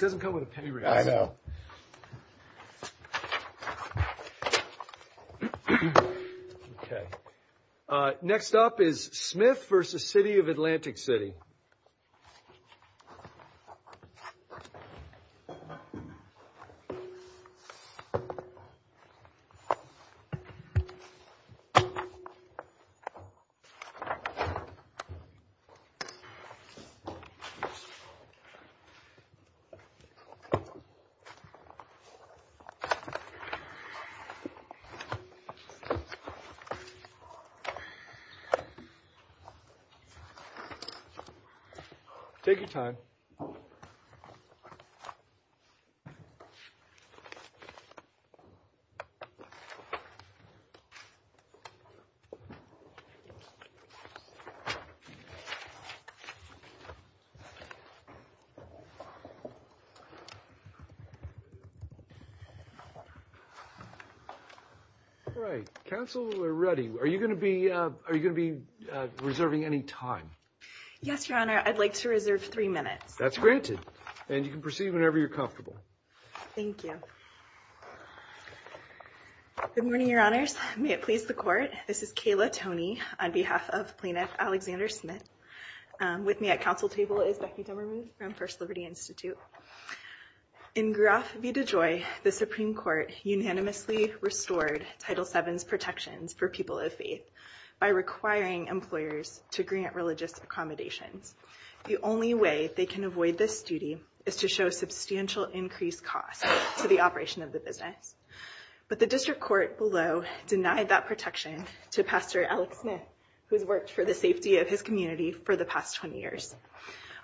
doesn't come with a penny right now okay next up is Smith versus City of Atlantic City take your time all right counselor ready are you going to be are you going to be reserving any time yes your honor I'd like to reserve three minutes that's granted and you can proceed whenever you're comfortable thank you good morning your honors may it please the court this is Kayla Tony on behalf of plaintiff Alexander Smith with me at council table is Becky Demmerman from First Liberty Institute in graph V to joy the Supreme Court unanimously restored title sevens protections for people of faith by requiring employers to grant religious accommodations the only way they can avoid this duty is to show substantial increased cost to the operation of the business but the district court below denied that protection to pastor Alex Smith who's worked for the safety of his community for the past 20 years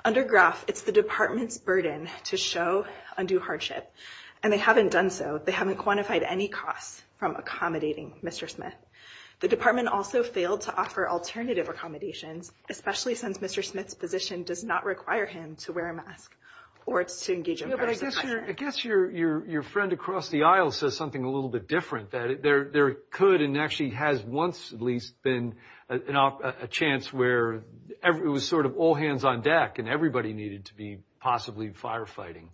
under graph it's the department's burden to show undue hardship and they haven't done so they haven't quantified any costs from accommodating mr. Smith the department also failed to offer alternative accommodations especially since mr. Smith's position does not require him to wear a mask or it's to engage in I guess your your your friend across the aisle says something a little bit different that there there could and she has once at least been enough a chance where it was sort of all hands on deck and everybody needed to be possibly firefighting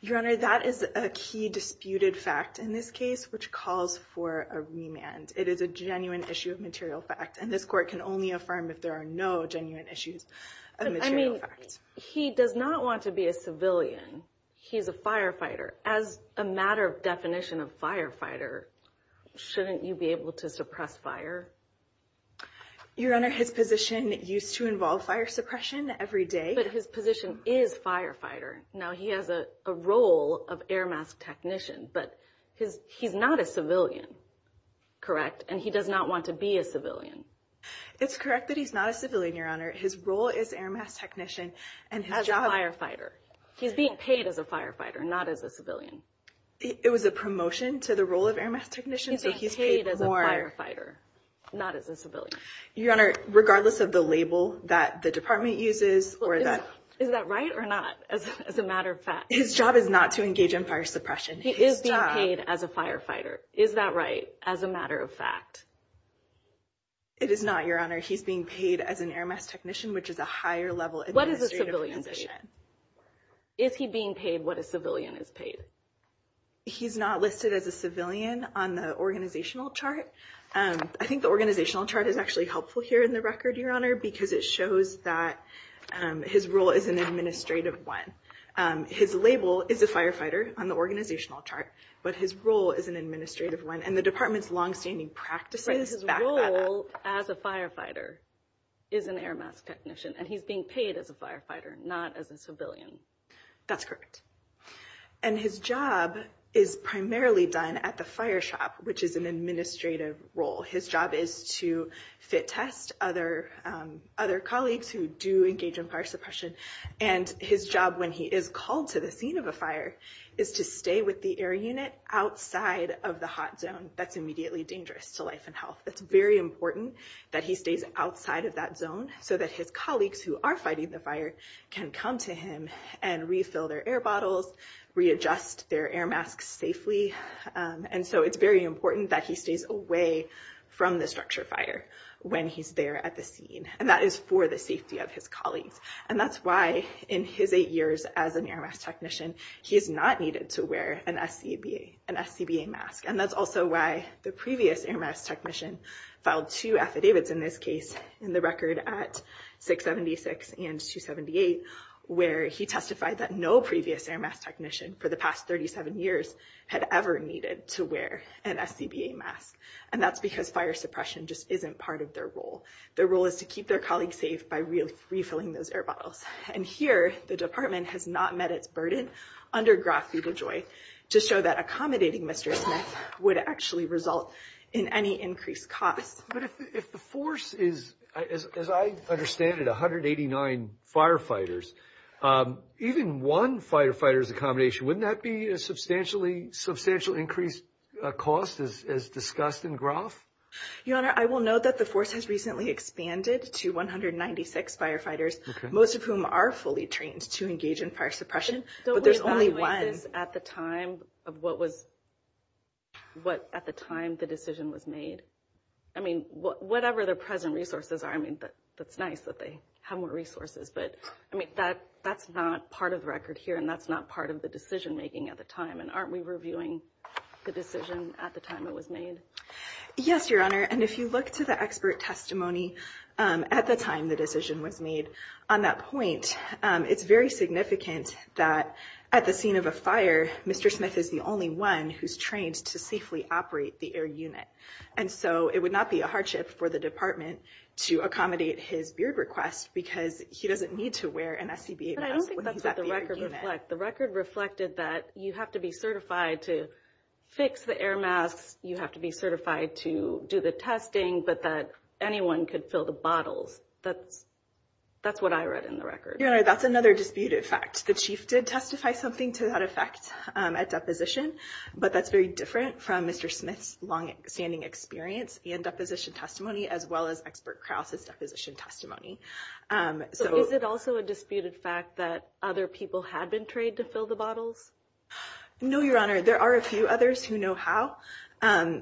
your honor that is a key disputed fact in this case which calls for a remand it is a genuine issue of material fact and this court can only affirm if there are no genuine issues I mean he does not want to be a civilian he's a firefighter as a matter of firefighter shouldn't you be able to suppress fire your honor his position used to involve fire suppression every day but his position is firefighter now he has a role of air mask technician but his he's not a civilian correct and he does not want to be a civilian it's correct that he's not a civilian your honor his role is air mask technician and as a firefighter he's being paid as a firefighter not as a civilian it was a promotion to the role of air mask technician so he's paid as a firefighter not as a civilian your honor regardless of the label that the department uses or that is that right or not as a matter of fact his job is not to engage in fire suppression he is not paid as a firefighter is that right as a matter of fact it is not your honor he's being paid as an air mask technician which is a higher level what is a civilian is paid he's not listed as a civilian on the organizational chart and I think the organizational chart is actually helpful here in the record your honor because it shows that his role is an administrative one his label is a firefighter on the organizational chart but his role is an administrative one and the department's long-standing practices as a firefighter is an air mask technician and he's being paid as a firefighter not as a civilian that's correct and his job is primarily done at the fire shop which is an administrative role his job is to fit test other other colleagues who do engage in fire suppression and his job when he is called to the scene of a fire is to stay with the air unit outside of the hot zone that's immediately dangerous to life and health that's very important that he stays outside of that zone so that his colleagues who are fighting the fire can come to him and refill their air bottles readjust their air masks safely and so it's very important that he stays away from the structure fire when he's there at the scene and that is for the safety of his colleagues and that's why in his eight years as an air mask technician he is not needed to wear an SCBA mask and that's also why the previous air mask technician filed two affidavits in this case in the record at 676 and 278 where he testified that no previous air mask technician for the past 37 years had ever needed to wear an SCBA mask and that's because fire suppression just isn't part of their role their role is to keep their colleagues safe by really refilling those air bottles and here the department has not met its burden under Graf Vida Joy to show that accommodating Mr. Smith would actually result in any increased costs but if the force is as I understand it 189 firefighters even one firefighters accommodation wouldn't that be a substantially substantial increased cost as discussed in Graf? Your honor I will note that the force has recently expanded to 196 firefighters most of whom are fully trained to engage in fire suppression but there's only one. Don't we evaluate this at the time of what was what at the time the decision was made? I mean whatever the present resources are I mean but that's nice that they have more resources but I mean that that's not part of the record here and that's not part of the decision-making at the time and aren't we reviewing the decision at the time it was made? Yes your honor and if you look to the expert testimony at the time the decision was made on that point it's very significant that at the scene of a fire Mr. Smith is the only one who's trained to safely operate the air unit and so it would not be a hardship for the department to accommodate his beard request because he doesn't need to wear an SCBA mask. The record reflected that you have to be certified to fix the air masks you have to be certified to do the testing but that anyone could fill the bottles that's that's what I read in the record. Your honor that's another dispute effect the chief did testify something to that effect at deposition but that's very different from Mr. Smith's long-standing experience and deposition testimony as well as expert Krause's deposition testimony. So is it also a disputed fact that other people had been trained to fill the bottles? No your honor there are a few others who know how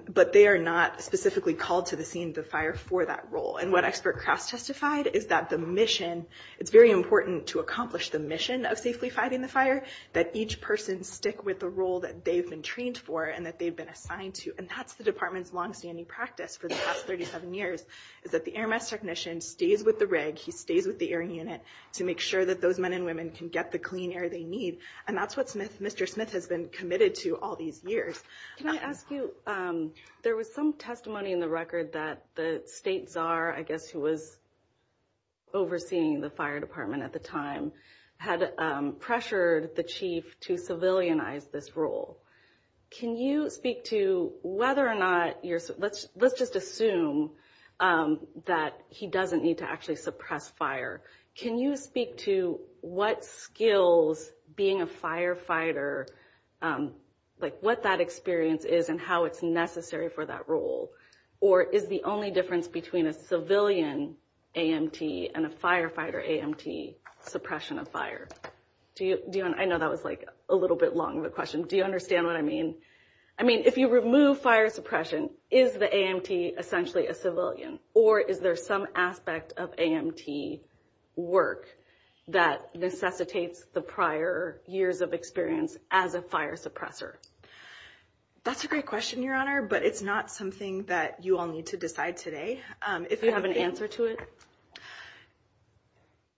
but they are not specifically called to the scene of the fire for that role and what expert Krause testified is that the mission it's very important to accomplish the mission of safely fighting the fire that each person stick with the role that they've been trained for and that they've been assigned to and that's the department's long-standing practice for the past 37 years is that the air mask technician stays with the rig he stays with the airing unit to make sure that those men and women can get the clean air they need and that's what Smith Mr. Smith has been committed to all these years. Can I ask you there was some testimony in the record that the state czar I guess who was overseeing the fire department at the time had pressured the chief to civilianize this role can you speak to whether or not you're so let's let's just assume that he doesn't need to actually suppress fire can you speak to what skills being a firefighter like what that experience is and how it's necessary for that role or is the only difference between a civilian AMT and a firefighter AMT suppression of fire do you do and I know that was like a little bit long of a question do you understand what I mean I mean if you remove fire suppression is the AMT essentially a civilian or is there some aspect of AMT work that necessitates the prior years of experience as a fire suppressor that's a great question your but it's not something that you all need to decide today if you have an answer to it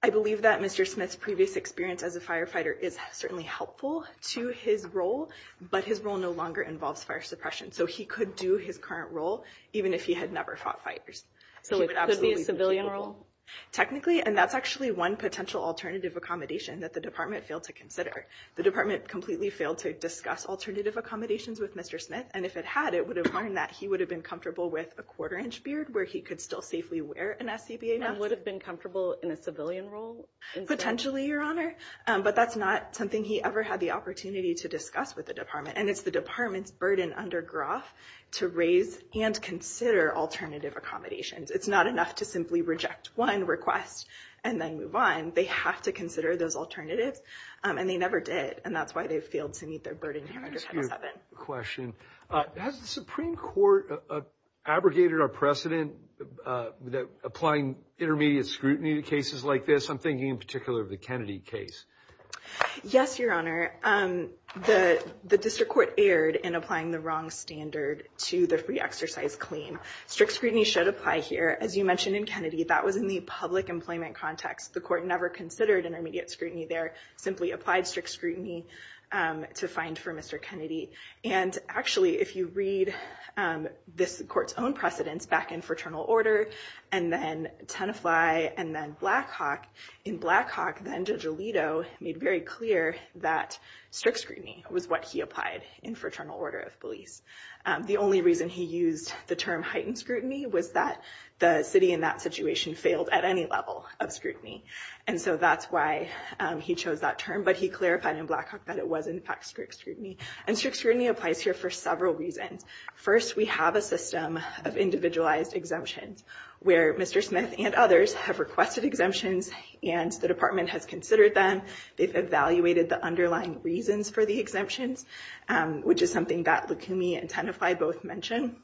I believe that mr. Smith's previous experience as a firefighter is certainly helpful to his role but his role no longer involves fire suppression so he could do his current role even if he had never fought fighters so it absolutely civilian role technically and that's actually one potential alternative accommodation that the department failed to consider the department completely failed to discuss alternative accommodations with mr. Smith and if it had it would have learned that he would have been comfortable with a quarter-inch beard where he could still safely wear an SCBA now would have been comfortable in a civilian role potentially your honor but that's not something he ever had the opportunity to discuss with the department and it's the department's burden under groff to raise and consider alternative accommodations it's not enough to simply reject one request and then move on they have to consider those alternatives and they never did and that's why they failed to meet their burden question Supreme Court abrogated our precedent that applying intermediate scrutiny to cases like this I'm thinking in particular of the Kennedy case yes your honor the the district court erred in applying the wrong standard to the free exercise claim strict scrutiny should apply here as you mentioned in Kennedy that was in the public employment context the court never considered intermediate scrutiny there simply applied strict scrutiny to find for mr. Kennedy and actually if you read this court's own precedents back in fraternal order and then tenify and then Blackhawk in Blackhawk then judge Alito made very clear that strict scrutiny was what he applied in fraternal order of police the only reason he used the term heightened scrutiny was that the city in that situation failed at any level of scrutiny and so that's why he chose that term but he clarified in Blackhawk that it was in fact strict scrutiny and strict scrutiny applies here for several reasons first we have a system of individualized exemptions where mr. Smith and others have requested exemptions and the department has considered them they've evaluated the underlying reasons for the exemptions which is something that look to me and tenify both mentioned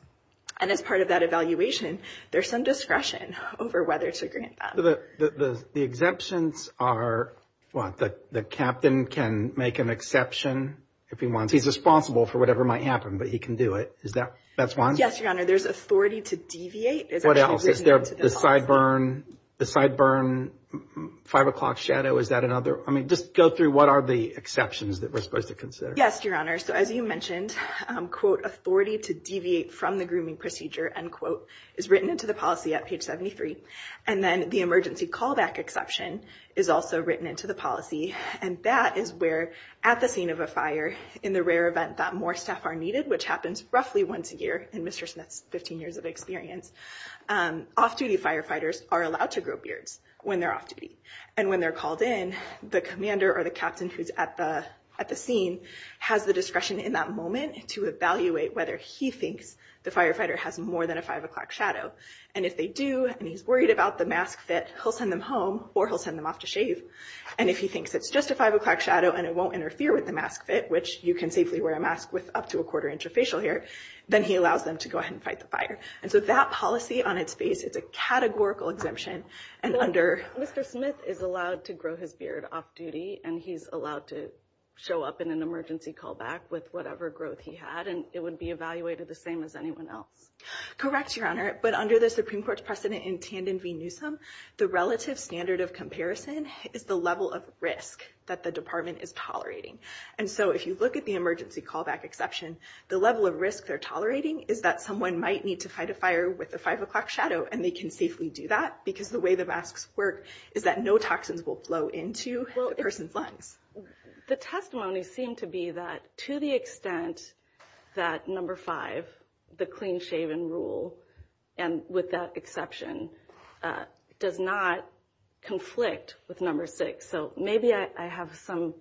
and as part of that evaluation there's some discretion over whether to grant that the exemptions are what the the captain can make an exception if he wants he's responsible for whatever might happen but he can do it is that that's one yes your honor there's authority to deviate is what else is there the sideburn the sideburn five o'clock shadow is that another I mean just go through what are the exceptions that we're supposed to consider yes your honor so as you mentioned quote authority to deviate from the grooming procedure and quote is written into the policy at page 73 and then the emergency callback exception is also written into the policy and that is where at the scene of a fire in the rare event that more staff are needed which happens roughly once a year and mr. Smith's 15 years of experience off-duty firefighters are allowed to grow beards when they're off duty and when they're called in the commander or the captain who's at the at the scene has the discretion in that moment to evaluate whether he thinks the firefighter has more than a five o'clock shadow and if they do and he's worried about the mask fit he'll send them home or he'll send them off to shave and if he thinks it's just a five o'clock shadow and it won't interfere with the mask fit which you can safely wear a mask with up to a quarter inch of facial hair then he allows them to go ahead and fight the fire and so that policy on its face it's a categorical exemption and under mr. Smith is allowed to grow his beard off-duty and he's allowed to show up in an emergency callback with whatever growth he had and it would be evaluated the same as anyone else correct your honor but under the Supreme Court's precedent in Tandon v Newsom the relative standard of comparison is the level of risk that the department is tolerating and so if you look at the emergency callback exception the level of risk they're tolerating is that someone might need to fight a fire with a five o'clock shadow and they can do that because the way the masks work is that no toxins will flow into a person's lungs the testimony seemed to be that to the extent that number five the clean shave and rule and with that exception does not conflict with number six so maybe I have some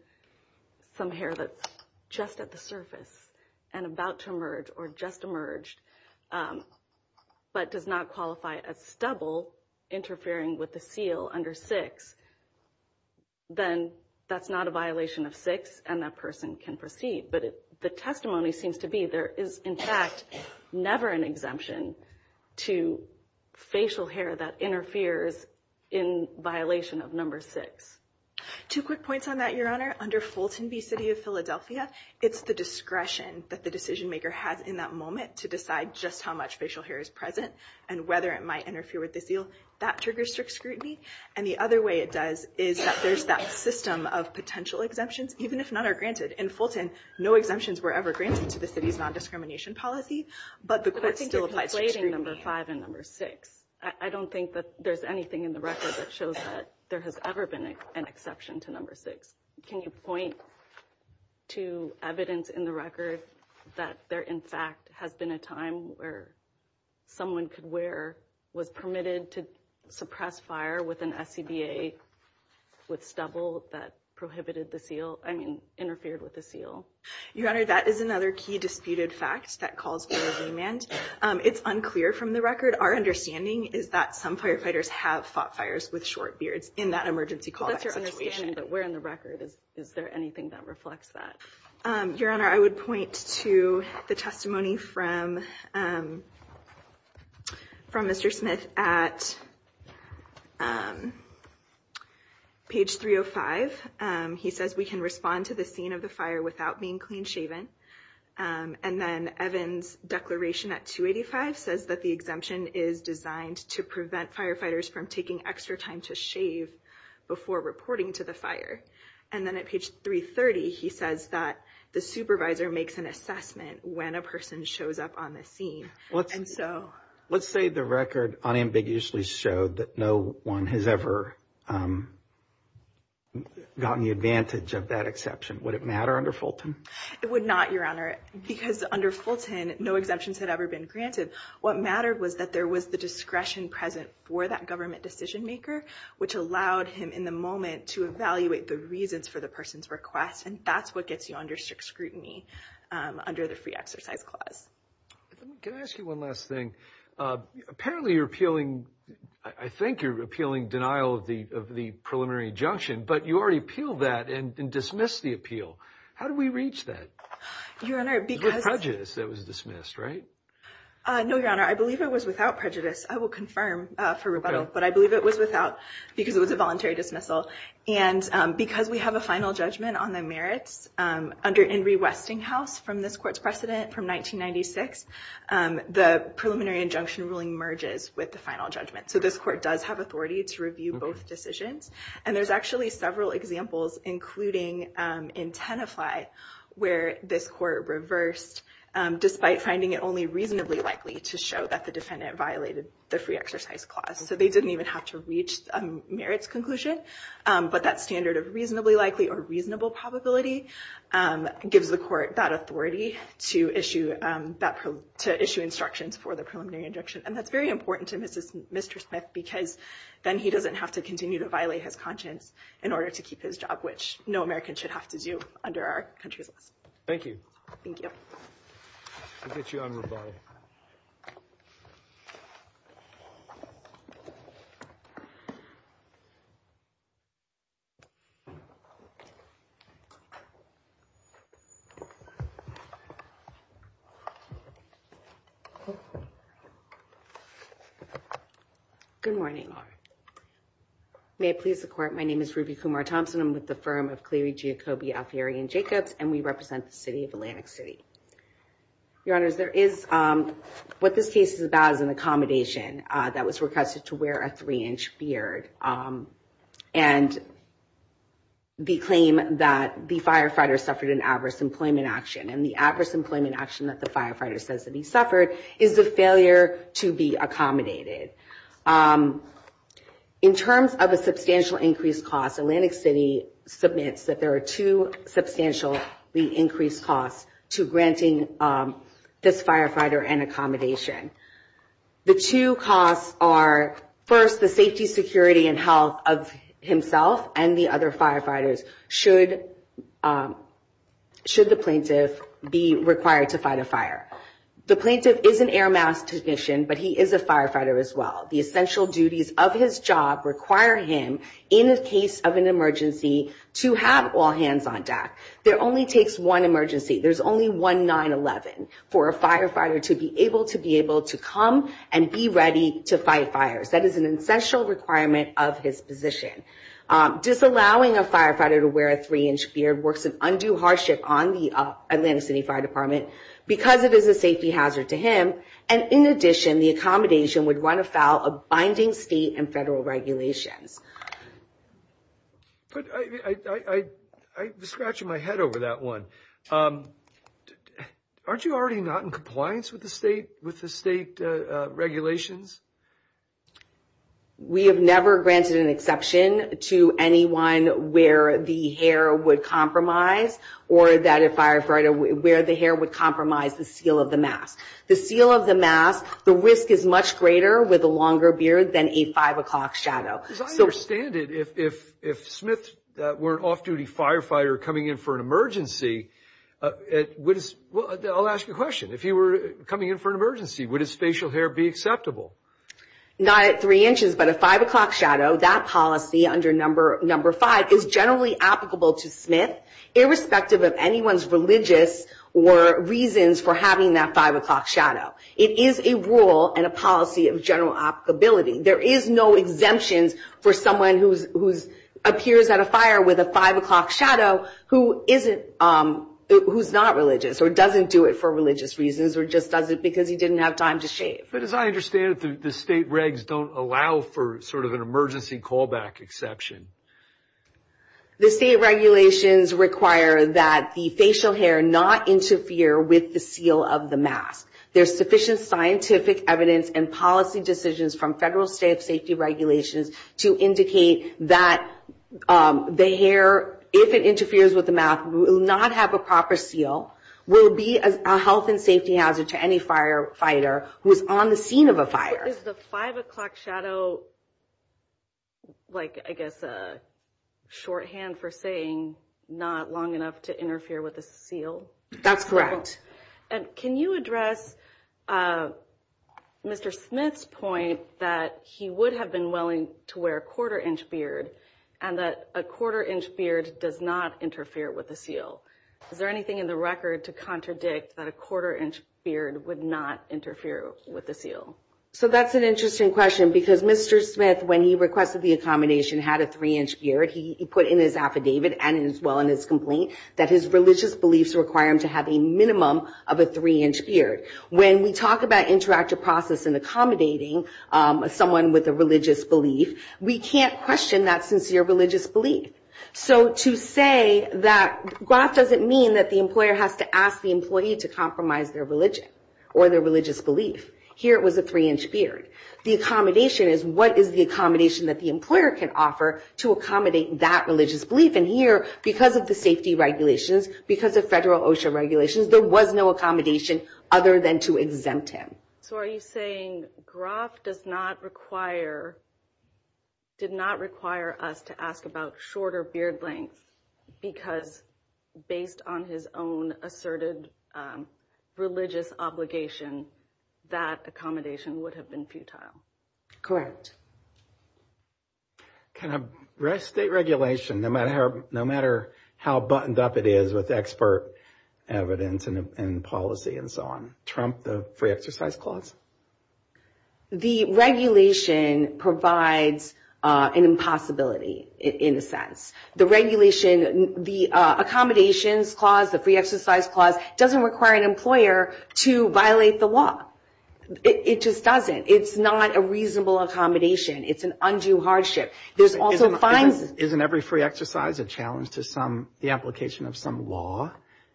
some hair that's just at the surface and about to or just emerged but does not qualify as stubble interfering with the seal under six then that's not a violation of six and that person can proceed but if the testimony seems to be there is in fact never an exemption to facial hair that interferes in violation of number six two quick points on that your honor under Fulton B City of Philadelphia it's the discretion that the decision-maker has in that moment to decide just how much facial hair is present and whether it might interfere with the seal that triggers strict scrutiny and the other way it does is that there's that system of potential exemptions even if none are granted in Fulton no exemptions were ever granted to the city's non-discrimination policy but the court still applies rating number five and number six I don't think that there's anything in the record that shows that there has ever been an exception to number six can you point to evidence in the record that there in fact has been a time where someone could wear was permitted to suppress fire with an SCBA with stubble that prohibited the seal I mean interfered with the seal your honor that is another key disputed fact that calls for a remand it's unclear from the record our understanding is that some firefighters have fought fires with short beards in that emergency call that's your understanding that we're in the record is is there anything that reflects that your honor I would point to the testimony from from mr. Smith at page 305 he says we can respond to the scene of the fire without being clean shaven and then Evans declaration at 285 says that the exemption is designed to prevent firefighters from taking extra time to shave before reporting to the fire and then at page 330 he says that the supervisor makes an assessment when a person shows up on the scene what's and so let's say the record unambiguously showed that no one has ever gotten the advantage of that exception would it matter under Fulton it would not your honor because under Fulton no exemptions had ever been granted what mattered was that there was the discretion present for that government decision-maker which allowed him in the moment to evaluate the reasons for the person's request and that's what gets you under strict scrutiny under the free exercise clause can I ask you one last thing apparently you're appealing I think you're appealing denial of the of the preliminary injunction but you already appeal that and dismiss the appeal how do we reach that your honor because prejudice that was dismissed right no your honor I believe it was without prejudice I will confirm for rebuttal but I believe it was without because it was a voluntary dismissal and because we have a final judgment on the merits under Henry Westinghouse from this court's precedent from 1996 the preliminary injunction ruling merges with the final judgment so this court does have authority to review both decisions and there's actually several examples including in Tenafly where this court reversed despite finding it only reasonably likely to show that the defendant violated the free exercise clause so they didn't even have to reach a merits conclusion but that standard of reasonably likely or reasonable probability gives the court that authority to issue that to issue instructions for the preliminary injunction and that's very important to mrs. mr. Smith because then he doesn't have to continue to violate his conscience in order to keep his job which no American should have to do under our country's laws thank you you good morning may I please the court my name is Ruby Kumar Thompson I'm with the firm of Cleary Giacobbi Alfieri and Jacobs and we represent the city of Atlantic City your honors there is what this case is about as an accommodation that was requested to wear a three-inch beard and the claim that the firefighter suffered an adverse employment action and the adverse employment action that the firefighter says that he suffered is the failure to be accommodated in terms of a substantial increased cost Atlantic City submits that there are two substantially increased costs to granting this firefighter and accommodation the two costs are first the safety security and health of himself and the other firefighters should should the plaintiff be required to fight a fire the plaintiff is an air mask technician but he is a firefighter as well the essential duties of his job require him in a case of an emergency to have all hands on deck there only takes one emergency there's only one 9-11 for a firefighter to be able to be able to come and be ready to fight fires that is an essential requirement of his position disallowing a firefighter to wear a three-inch beard works of undue hardship on the Atlantic City Fire Department because it is a safety hazard to him and in addition the accommodation would run afoul of binding state and federal regulations I scratch my head over that one aren't you already not in compliance with the state with the state regulations we have never granted an exception to anyone where the hair would compromise or that a firefighter where the hair would compromise the seal of the mask the seal of the mask the risk is much greater with a longer beard than a five o'clock shadow if Smith weren't off-duty firefighter coming in for an emergency I'll ask you a question if you were coming in for an emergency would his facial hair be acceptable not at three inches but a five o'clock shadow that policy under number number five is generally applicable to Smith irrespective of anyone's religious or reasons for having that five o'clock shadow it is a rule and a policy of general applicability there is no exemptions for someone who's who's appears at a fire with a five o'clock shadow who isn't who's not religious or doesn't do it for religious reasons or just doesn't because he didn't have time to shave but as I understand the state regs don't allow for sort of an emergency callback exception the state regulations require that the facial hair not interfere with the seal of the mask there's sufficient scientific evidence and policy decisions from federal state safety regulations to indicate that the hair if it interferes with the math will not have a proper seal will be a health and safety hazard to any firefighter who is on the scene of a fire is the five o'clock shadow like I guess a shorthand for saying not long enough to interfere with a seal that's correct and can you address mr. Smith's point that he would have been willing to wear a quarter-inch beard and that a quarter-inch beard does not interfere with the seal is there anything in the record to contradict that a quarter-inch beard would not interfere with the seal so that's an interesting question because mr. Smith when he requested the accommodation had a three-inch beard he put in his affidavit and as well in his complaint that his religious beliefs require him to have a minimum of a three-inch beard when we talk about interactive process and accommodating someone with a religious belief we can't question that sincere religious belief so to say that that doesn't mean that the employer has to ask the employee to compromise their religion or their religious belief here it was a three-inch beard the accommodation is what is the accommodation that the employer can offer to accommodate that religious belief and here because of the safety regulations because of federal OSHA regulations there was no accommodation other than to exempt him so are you saying Groff does not require did not require us to ask about shorter beard length because based on his own asserted religious obligation that accommodation would have been futile correct can I restate regulation no matter how buttoned up it is with expert evidence and policy and so on trump the free exercise clause the regulation provides an impossibility in a sense the regulation the accommodations clause the free exercise clause doesn't require an employer to violate the law it just doesn't it's not a reasonable accommodation it's an undue hardship there's also fines isn't every free exercise a challenge to some the application of some law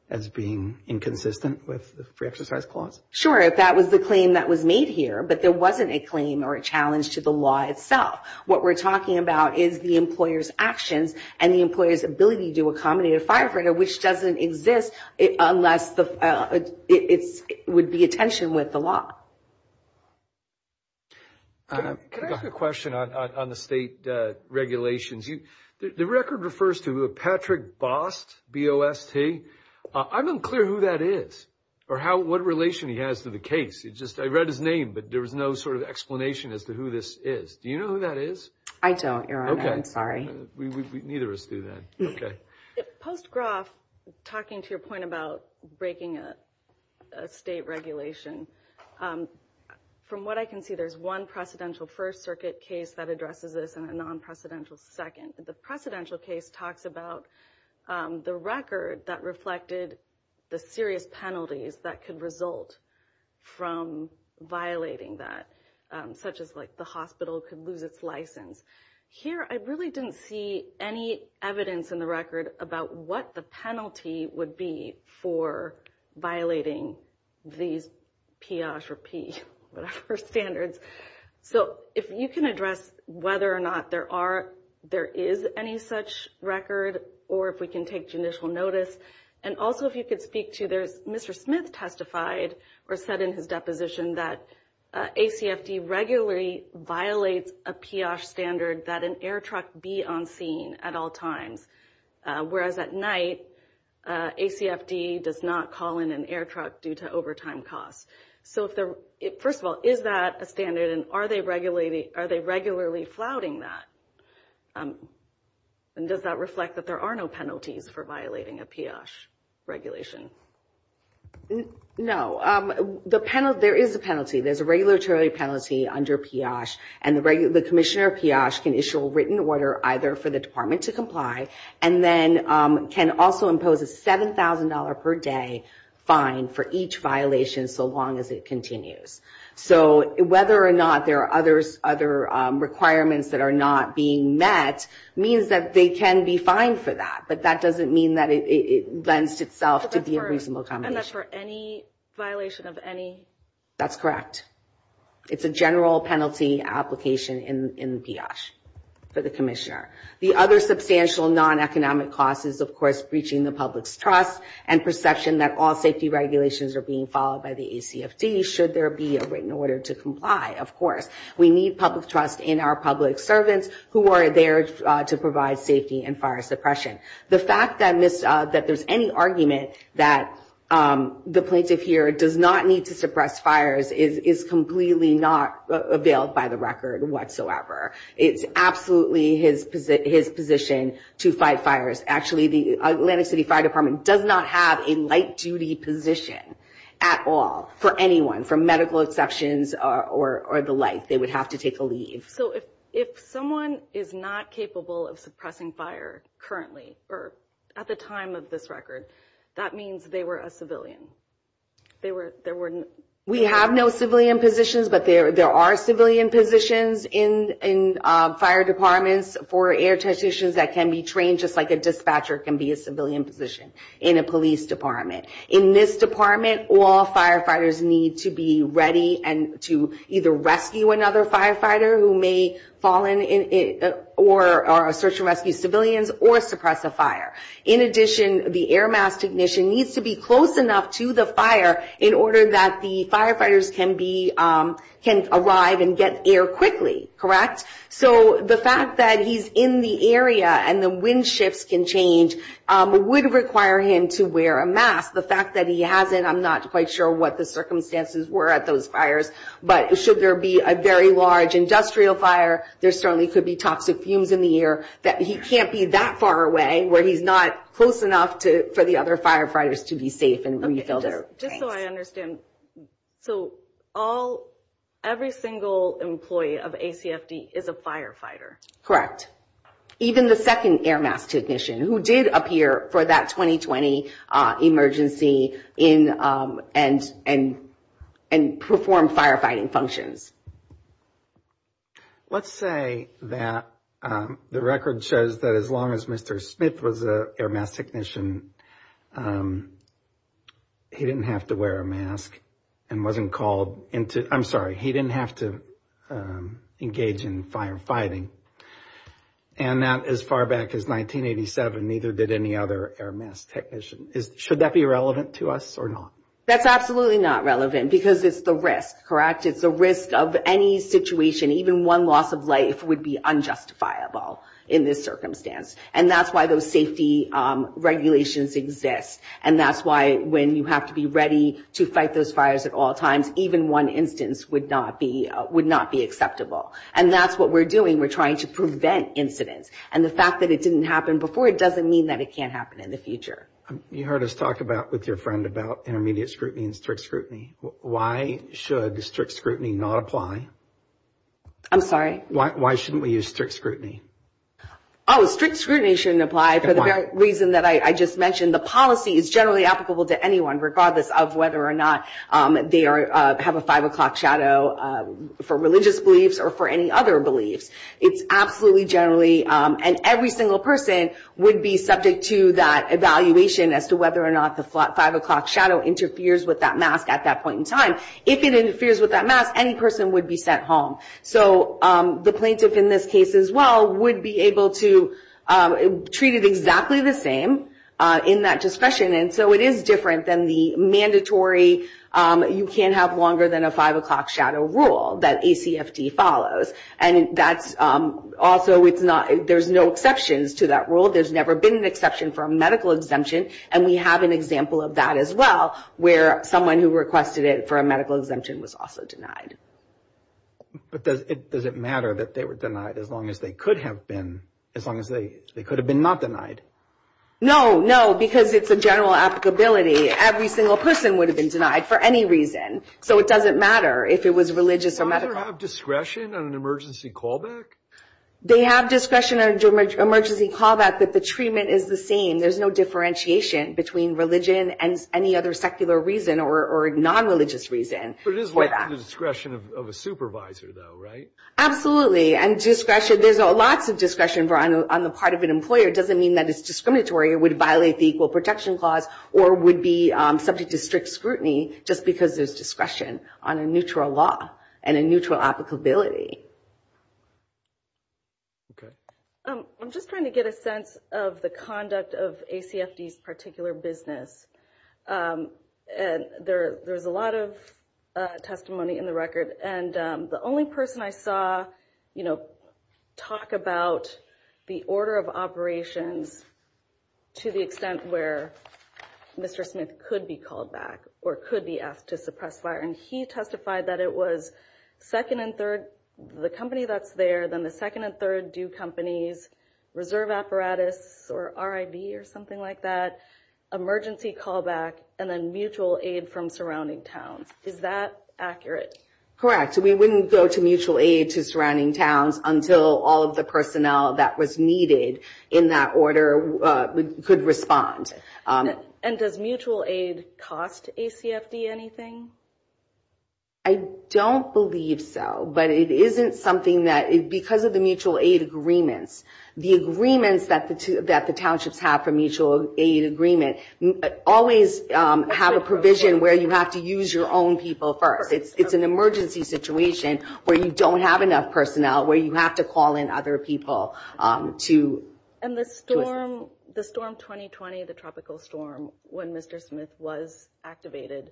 as being inconsistent with the free exercise clause sure if that was the claim that was made here but there wasn't a claim or a challenge to the law itself what we're talking about is the employers actions and the employers ability to accommodate a firefighter which doesn't exist unless the it's would be attention with the law a question on the state regulations you the record refers to a Patrick Bost BOST I'm unclear who that is or how what relation he has to the case it just I read his name but there was no sort of explanation as to who this is do you know who that is I don't you're on I'm sorry neither of us do that okay post Groff talking to your point about breaking a state regulation from what I can see there's one precedential First Circuit case that addresses this in a non-precedential second the precedential case talks about the record that reflected the serious penalties that could result from violating that such as like the hospital could lose its license here I really didn't see any evidence in the record about what the penalty would be for violating these Pioche or P whatever standards so if you can address whether or not there are there is any such record or if we can take judicial notice and also if you could speak to there's mr. Smith testified or said in his deposition that a CFD regularly violates a Pioche standard that an air truck be on scene at all times whereas at night a CFD does not call in an air truck due to overtime costs so if there it first of all is that a standard and are they regulating are they regularly flouting that and does that reflect that there are no penalties for violating a Pioche regulation no the panel there is a penalty there's a regulatory penalty under Pioche and the regular the Pioche can issue a written order either for the department to comply and then can also impose a $7,000 per day fine for each violation so long as it continues so whether or not there are others other requirements that are not being met means that they can be fined for that but that doesn't mean that it lends itself to be a reasonable combination for any violation of any that's correct it's a general penalty application in Pioche for the commissioner the other substantial non-economic cost is of course breaching the public's trust and perception that all safety regulations are being followed by the ACFD should there be a written order to comply of course we need public trust in our public servants who are there to provide safety and fire suppression the fact that miss that there's any argument that the plaintiff here does not need to suppress fires is is completely not availed by the record whatsoever it's absolutely his position his position to fight fires actually the Atlantic City Fire Department does not have a light duty position at all for anyone from medical exceptions or the like they would have to take a leave so if if someone is not capable of suppressing fire currently or at the of this record that means they were a civilian they were there were we have no civilian positions but there there are civilian positions in in fire departments for air technicians that can be trained just like a dispatcher can be a civilian position in a police department in this department all firefighters need to be ready and to either rescue another firefighter who may fall in it or our search and rescue civilians or suppress a fire in addition the air mass technician needs to be close enough to the fire in order that the firefighters can be can arrive and get air quickly correct so the fact that he's in the area and the wind shifts can change would require him to wear a mask the fact that he has it I'm not quite sure what the circumstances were at those fires but should there be a very large industrial fire there certainly could be toxic fumes in the air that he can't be that far away where he's not close enough to for the other firefighters to be safe and when you go there just so I understand so all every single employee of ACFD is a firefighter correct even the second air mass technician who did appear for that 2020 emergency in and and and perform firefighting functions let's say that the record shows that as long as mr. Smith was a air mass technician he didn't have to wear a mask and wasn't called into I'm sorry he didn't have to engage in firefighting and that as far back as 1987 neither did any other air mass technician is should that be relevant to us or not that's absolutely not relevant because it's the risk correct it's a risk of any situation even one loss of life would be unjustifiable in this circumstance and that's why those safety regulations exist and that's why when you have to be ready to fight those fires at all times even one instance would not be would not be acceptable and that's what we're doing we're trying to prevent incidents and the fact that it didn't happen before it doesn't mean that it can't happen in the future you heard us talk about with your friend about intermediate scrutiny and strict scrutiny why should the strict scrutiny not apply I'm sorry why shouldn't we use strict scrutiny Oh strict scrutiny shouldn't apply for the reason that I just mentioned the policy is generally applicable to anyone regardless of whether or not they are have a five o'clock shadow for religious beliefs or for any other beliefs it's absolutely generally and every single person would be subject to that evaluation as to whether or not the five o'clock shadow interferes with that mask at that point in time if it interferes with that mask any person would be sent home so the plaintiff in this case as well would be able to treat it exactly the same in that discussion and so it is different than the mandatory you can't have longer than a five o'clock shadow rule that ACFD follows and that's also it's not there's no exceptions to that rule there's never been an exception for a medical exemption and we have an example of that as well where someone who requested it for a medical exemption was also denied but does it does it matter that they were denied as long as they could have been as long as they could have been not denied no no because it's a general applicability every single person would have been denied for any reason so it doesn't matter if it was religious or medical discretion on an emergency call back they have discretionary emergency call back that the treatment is the same there's no between religion and any other secular reason or non-religious reason for that discretion of a supervisor though right absolutely and discretion there's a lot of discretion for on the part of an employer doesn't mean that it's discriminatory it would violate the Equal Protection Clause or would be subject to strict scrutiny just because there's discretion on a neutral law and a neutral applicability okay I'm just trying to get a sense of the conduct of ACFD's particular business and there there's a lot of testimony in the record and the only person I saw you know talk about the order of operations to the extent where mr. Smith could be called back or could be asked to suppress fire and he testified that it was second and third the company that's there then the third do companies reserve apparatus or RIV or something like that emergency callback and then mutual aid from surrounding towns is that accurate correct we wouldn't go to mutual aid to surrounding towns until all of the personnel that was needed in that order could respond and does mutual aid cost ACFD anything I don't believe so but it isn't something that it because of the mutual aid agreements the agreements that the two that the townships have for mutual aid agreement always have a provision where you have to use your own people first it's an emergency situation where you don't have enough personnel where you have to call in other people to and the storm the storm 2020 the tropical storm when mr. Smith was activated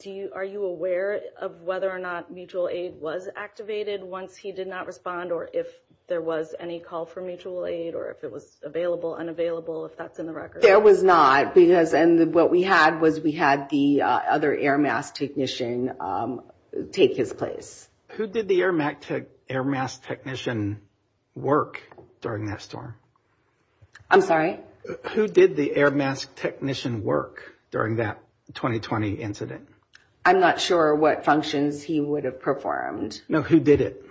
do you are you aware of whether or not mutual aid was activated once he did not respond or if there was any call for mutual aid or if it was available unavailable if that's in the record there was not because and what we had was we had the other air mask technician take his place who did the air matic air mask technician work during that storm I'm sorry who did the air mask technician work during that 2020 incident I'm not sure what functions he would have performed no who did it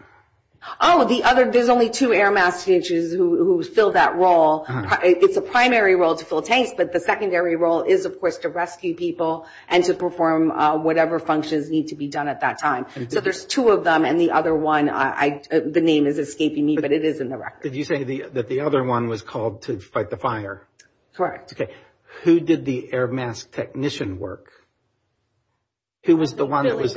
oh the other there's only two air messages who filled that role it's a primary role to fill tanks but the secondary role is of course to rescue people and to perform whatever functions need to be done at that time so there's two of them and the other one I the name is escaping me but it is in the record did you say the that the other one was called to fight the fire correct okay who did the air mask technician work who was the one who was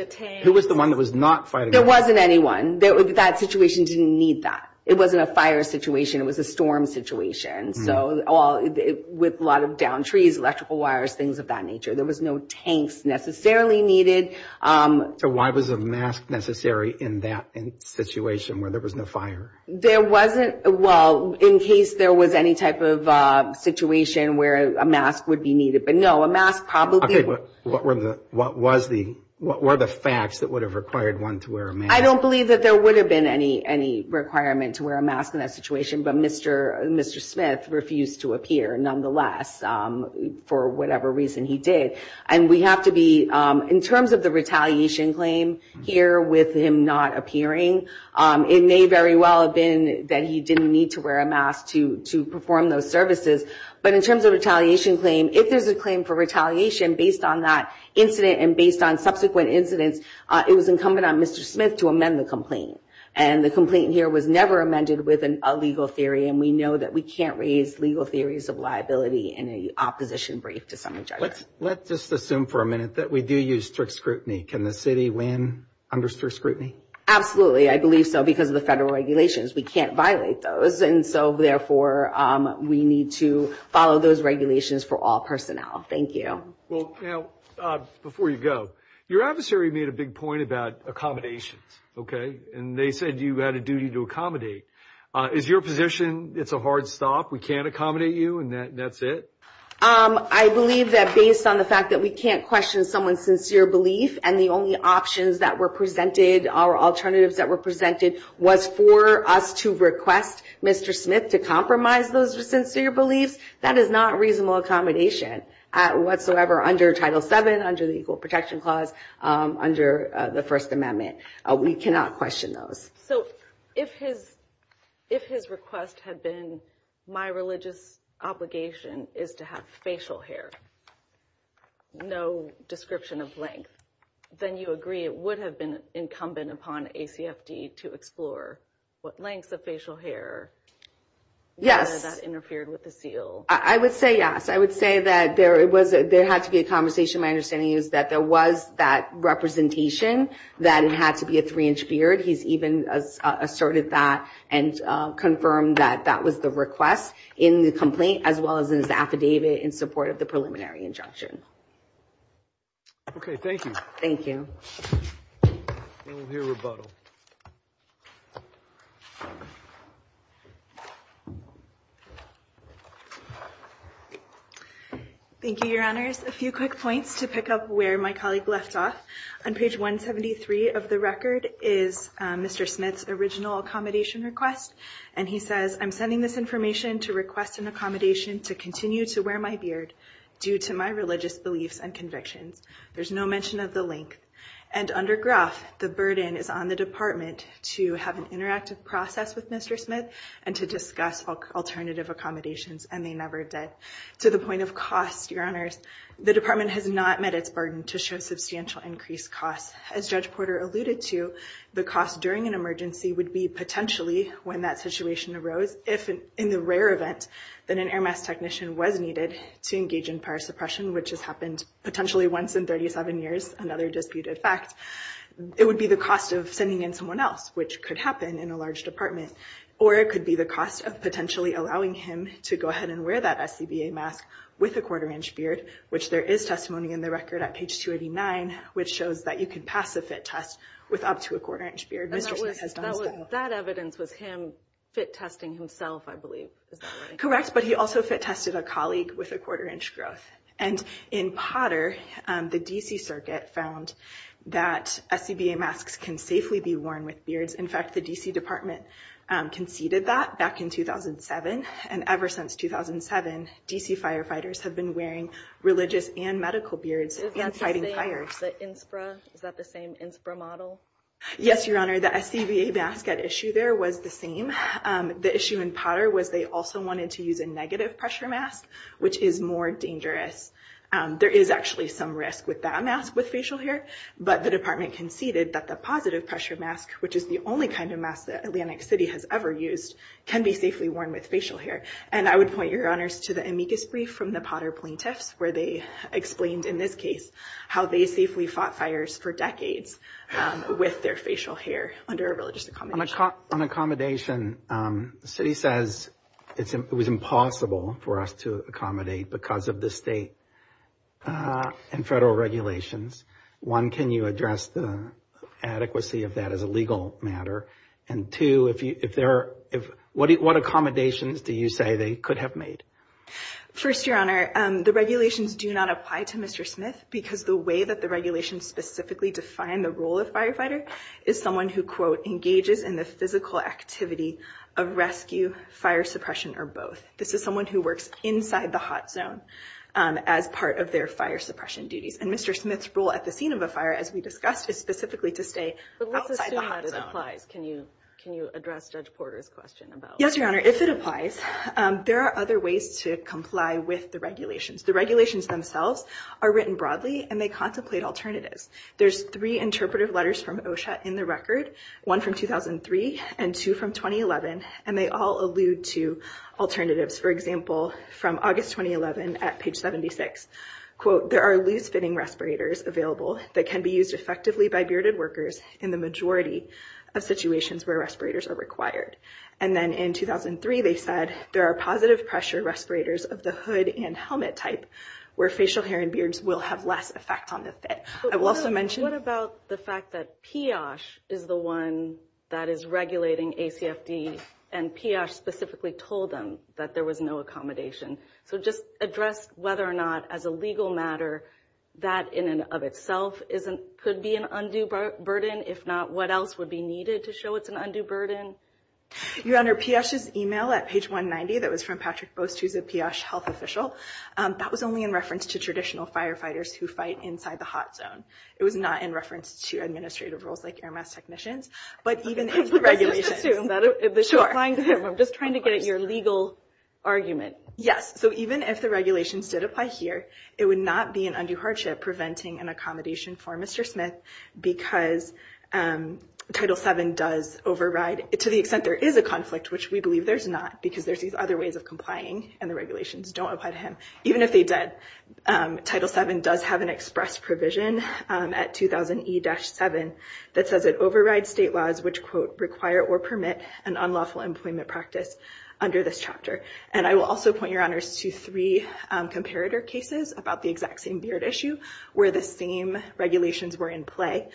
the one that was not fighting there wasn't anyone there would be that situation didn't need that it wasn't a fire situation it was a storm situation so all with a lot of downed trees electrical wires things of that nature there was no tanks necessarily needed so why was a mask necessary in that in situation where there was no fire there wasn't well in case there was any type of situation where a mask would be needed but no a mask probably what were the what was the what were the facts that would have required one to wear I don't believe that there would have been any any requirement to wear a mask in that situation but mr. mr. Smith refused to appear nonetheless for whatever reason he did and we have to be in terms of the retaliation claim here with him not appearing it may very well have been that he didn't need to wear a mask to perform those services but in terms of retaliation claim if there's a claim for retaliation based on that incident and based on subsequent incidents it was incumbent on mr. Smith to amend the complaint and the complaint here was never amended with an illegal theory and we know that we can't raise legal theories of liability in a opposition brief to some of judges let's just assume for a minute that we do use strict scrutiny can the city win under strict scrutiny absolutely I believe so because of the federal regulations we can't violate those and so therefore we need to follow those regulations for all personnel thank you well before you go your adversary made a big point about accommodations okay and they said you had a duty to accommodate is your position it's a hard stop we can't accommodate you and that's it I believe that based on the fact that we can't question someone's sincere belief and the only options that were presented our alternatives that were presented was for us to request mr. Smith to compromise those are sincere beliefs that is not reasonable accommodation whatsoever under title 7 under the Equal Protection Clause under the First Amendment we cannot question those so if his if his request had been my religious obligation is to have facial hair no description of length then you agree it would have been incumbent upon a CFD to explore what lengths of facial hair yes interfered with the seal I would say yes I would say that there it was there had to be a conversation my understanding is that there was that representation that it had to be a three-inch beard he's even asserted that and confirmed that that was the request in the complaint as well as in his affidavit in support of the preliminary injunction okay thank you thank you your honors a few quick points to pick up where my colleague left off on page 173 of the record is mr. Smith's original accommodation request and he says I'm sending this information to request an accommodation to continue to wear my beard due to my religious beliefs and convictions there's no mention of the link and under graph the burden is on the department to have an interactive process with mr. Smith and to discuss alternative accommodations and they never did to the point of cost your honors the department has not met its burden to show substantial increased costs as judge Porter alluded to the cost during an emergency would be potentially when that situation arose if in the rare event that an air mass technician was needed to engage in suppression which has happened potentially once in 37 years another disputed fact it would be the cost of sending in someone else which could happen in a large department or it could be the cost of potentially allowing him to go ahead and wear that SCBA mask with a quarter-inch beard which there is testimony in the record at page 289 which shows that you can pass a fit test with up to a quarter inch beard that evidence was him fit testing himself I believe correct but he also fit tested a colleague with a quarter-inch growth and in Potter the DC Circuit found that SCBA masks can safely be worn with beards in fact the DC Department conceded that back in 2007 and ever since 2007 DC firefighters have been wearing religious and medical beards and fighting fires the inspra is that the same inspra model yes your honor the SCBA basket issue there was the same the issue in Potter was they also wanted to negative pressure mask which is more dangerous there is actually some risk with that mask with facial hair but the department conceded that the positive pressure mask which is the only kind of mass that Atlantic City has ever used can be safely worn with facial hair and I would point your honors to the amicus brief from the Potter plaintiffs where they explained in this case how they safely fought fires for decades with their facial hair under a religious on accommodation the city says it was impossible for us to accommodate because of the state and federal regulations one can you address the adequacy of that as a legal matter and two if you if there if what what accommodations do you say they could have made first your honor the regulations do not apply to mr. Smith because the way that the regulations specifically define the role of firefighter is someone who quote engages in the physical activity of rescue fire suppression or both this is someone who works inside the hot zone as part of their fire suppression duties and mr. Smith's role at the scene of a fire as we discussed is specifically to stay can you can you address judge Porter's question about yes your honor if it applies there are other ways to comply with the regulations the regulations themselves are written letters from OSHA in the record one from 2003 and two from 2011 and they all allude to alternatives for example from August 2011 at page 76 quote there are loose fitting respirators available that can be used effectively by bearded workers in the majority of situations where respirators are required and then in 2003 they said there are positive pressure respirators of the hood and helmet type where facial hair and beards will have less effect on the fit I will mention what about the fact that Pioche is the one that is regulating ACFD and Pioche specifically told them that there was no accommodation so just address whether or not as a legal matter that in and of itself isn't could be an undue burden if not what else would be needed to show it's an undue burden your honor Pioche's email at page 190 that was from Patrick Bost who's a Pioche health official that was only in reference to traditional firefighters who fight inside the hot zone it was not in reference to administrative roles like Air Mass Technicians but even if the regulations did apply here it would not be an undue hardship preventing an accommodation for Mr. Smith because Title 7 does override to the extent there is a conflict which we believe there's not because there's these other ways of complying and the regulations don't apply to him even if Title 7 does have an express provision at 2000 E-7 that says it overrides state laws which quote require or permit an unlawful employment practice under this chapter and I will also point your honors to three comparator cases about the exact same beard issue where the same regulations were in play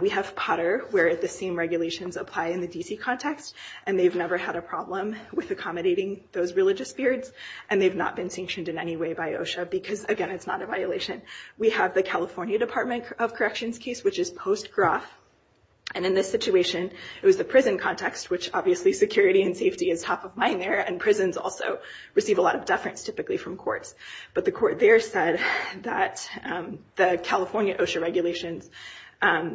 we have Potter where the same regulations apply in the DC context and they've never had a problem with accommodating those religious beards and they've not been sanctioned in any way by OSHA because again it's not a violation we have the California Department of Corrections case which is post gruff and in this situation it was the prison context which obviously security and safety is top of mind there and prisons also receive a lot of deference typically from courts but the court there said that the California OSHA regulations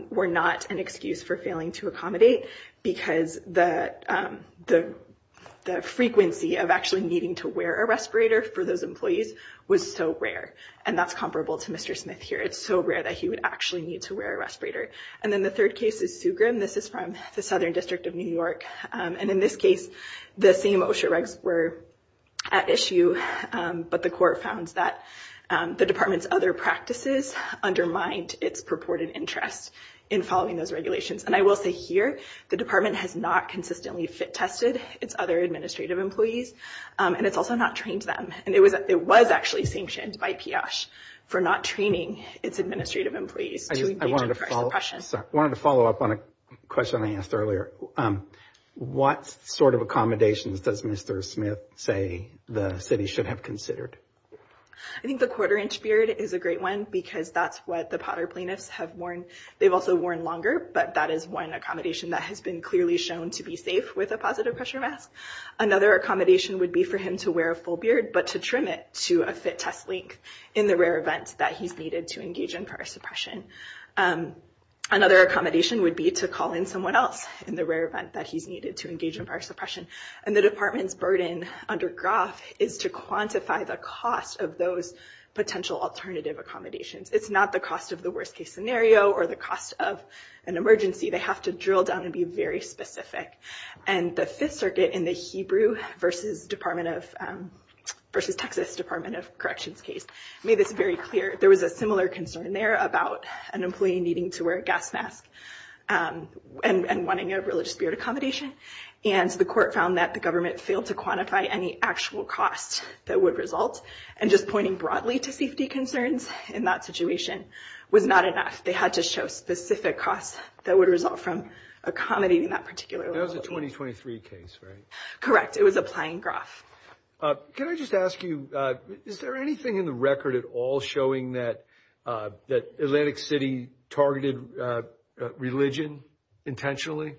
were not an excuse for failing to accommodate because the frequency of actually needing to wear a respirator for those employees was so rare and that's comparable to Mr. Smith here it's so rare that he would actually need to wear a respirator and then the third case is Sugrim this is from the Southern District of New York and in this case the same OSHA regs were at issue but the court found that the department's other practices undermined its purported interest in following those regulations and I will say here the department has not consistently fit tested its other administrative employees and it's also not trained them and it was it was actually sanctioned by PIOSH for not training its administrative employees. I wanted to follow up on a question I asked earlier what sort of accommodations does Mr. Smith say the city should have considered? I think the quarter-inch beard is a great one because that's what the Potter plaintiffs have worn they've also worn longer but that is one accommodation that has been clearly shown to be safe with a positive pressure mask. Another accommodation would be for him to wear a full beard but to trim it to a fit test length in the rare event that he's needed to engage in power suppression. Another accommodation would be to call in someone else in the rare event that he's needed to engage in power suppression and the department's burden under GROF is to quantify the cost of those potential alternative accommodations. It's not the cost of the worst-case scenario or the cost of an emergency they have to drill down and be very specific and the Fifth Circuit in the Hebrew versus Texas Department of Corrections case made this very clear there was a similar concern there about an employee needing to wear a gas mask and wanting a religious beard accommodation and the court found that the government failed to quantify any actual cost that would result and just pointing broadly to safety concerns in that situation was not enough. They had to show specific costs that would result from accommodating that particular employee. That was a 2023 case, right? Correct, it was applying GROF. Can I just ask you is there anything in the record at all showing that Atlantic City targeted religion intentionally?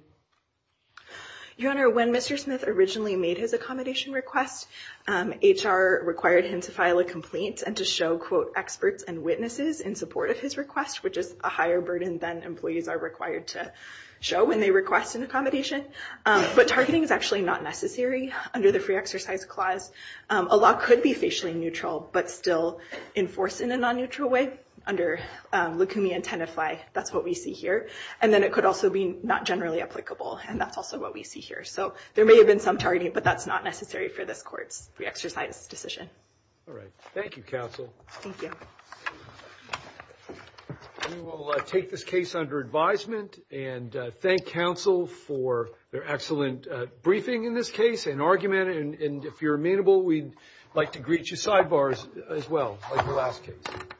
Your Honor, when Mr. Smith originally made his accommodation request, HR required him to file a complaint and to show experts and witnesses in support of his request, which is a higher burden than employees are required to show when they request an accommodation, but targeting is actually not necessary under the Free Exercise Clause. A law could be facially neutral but still enforced in a non-neutral way under lukumia and tenafy. That's what we see here and then it could also be not generally applicable and that's also what we see here. So there may have been some targeting but that's not necessary for this court's Free Exercise Decision. All right, thank you counsel. We will take this case under advisement and thank counsel for their excellent briefing in this case and argument and if you're amenable we'd like to greet you sidebars as well like the last case.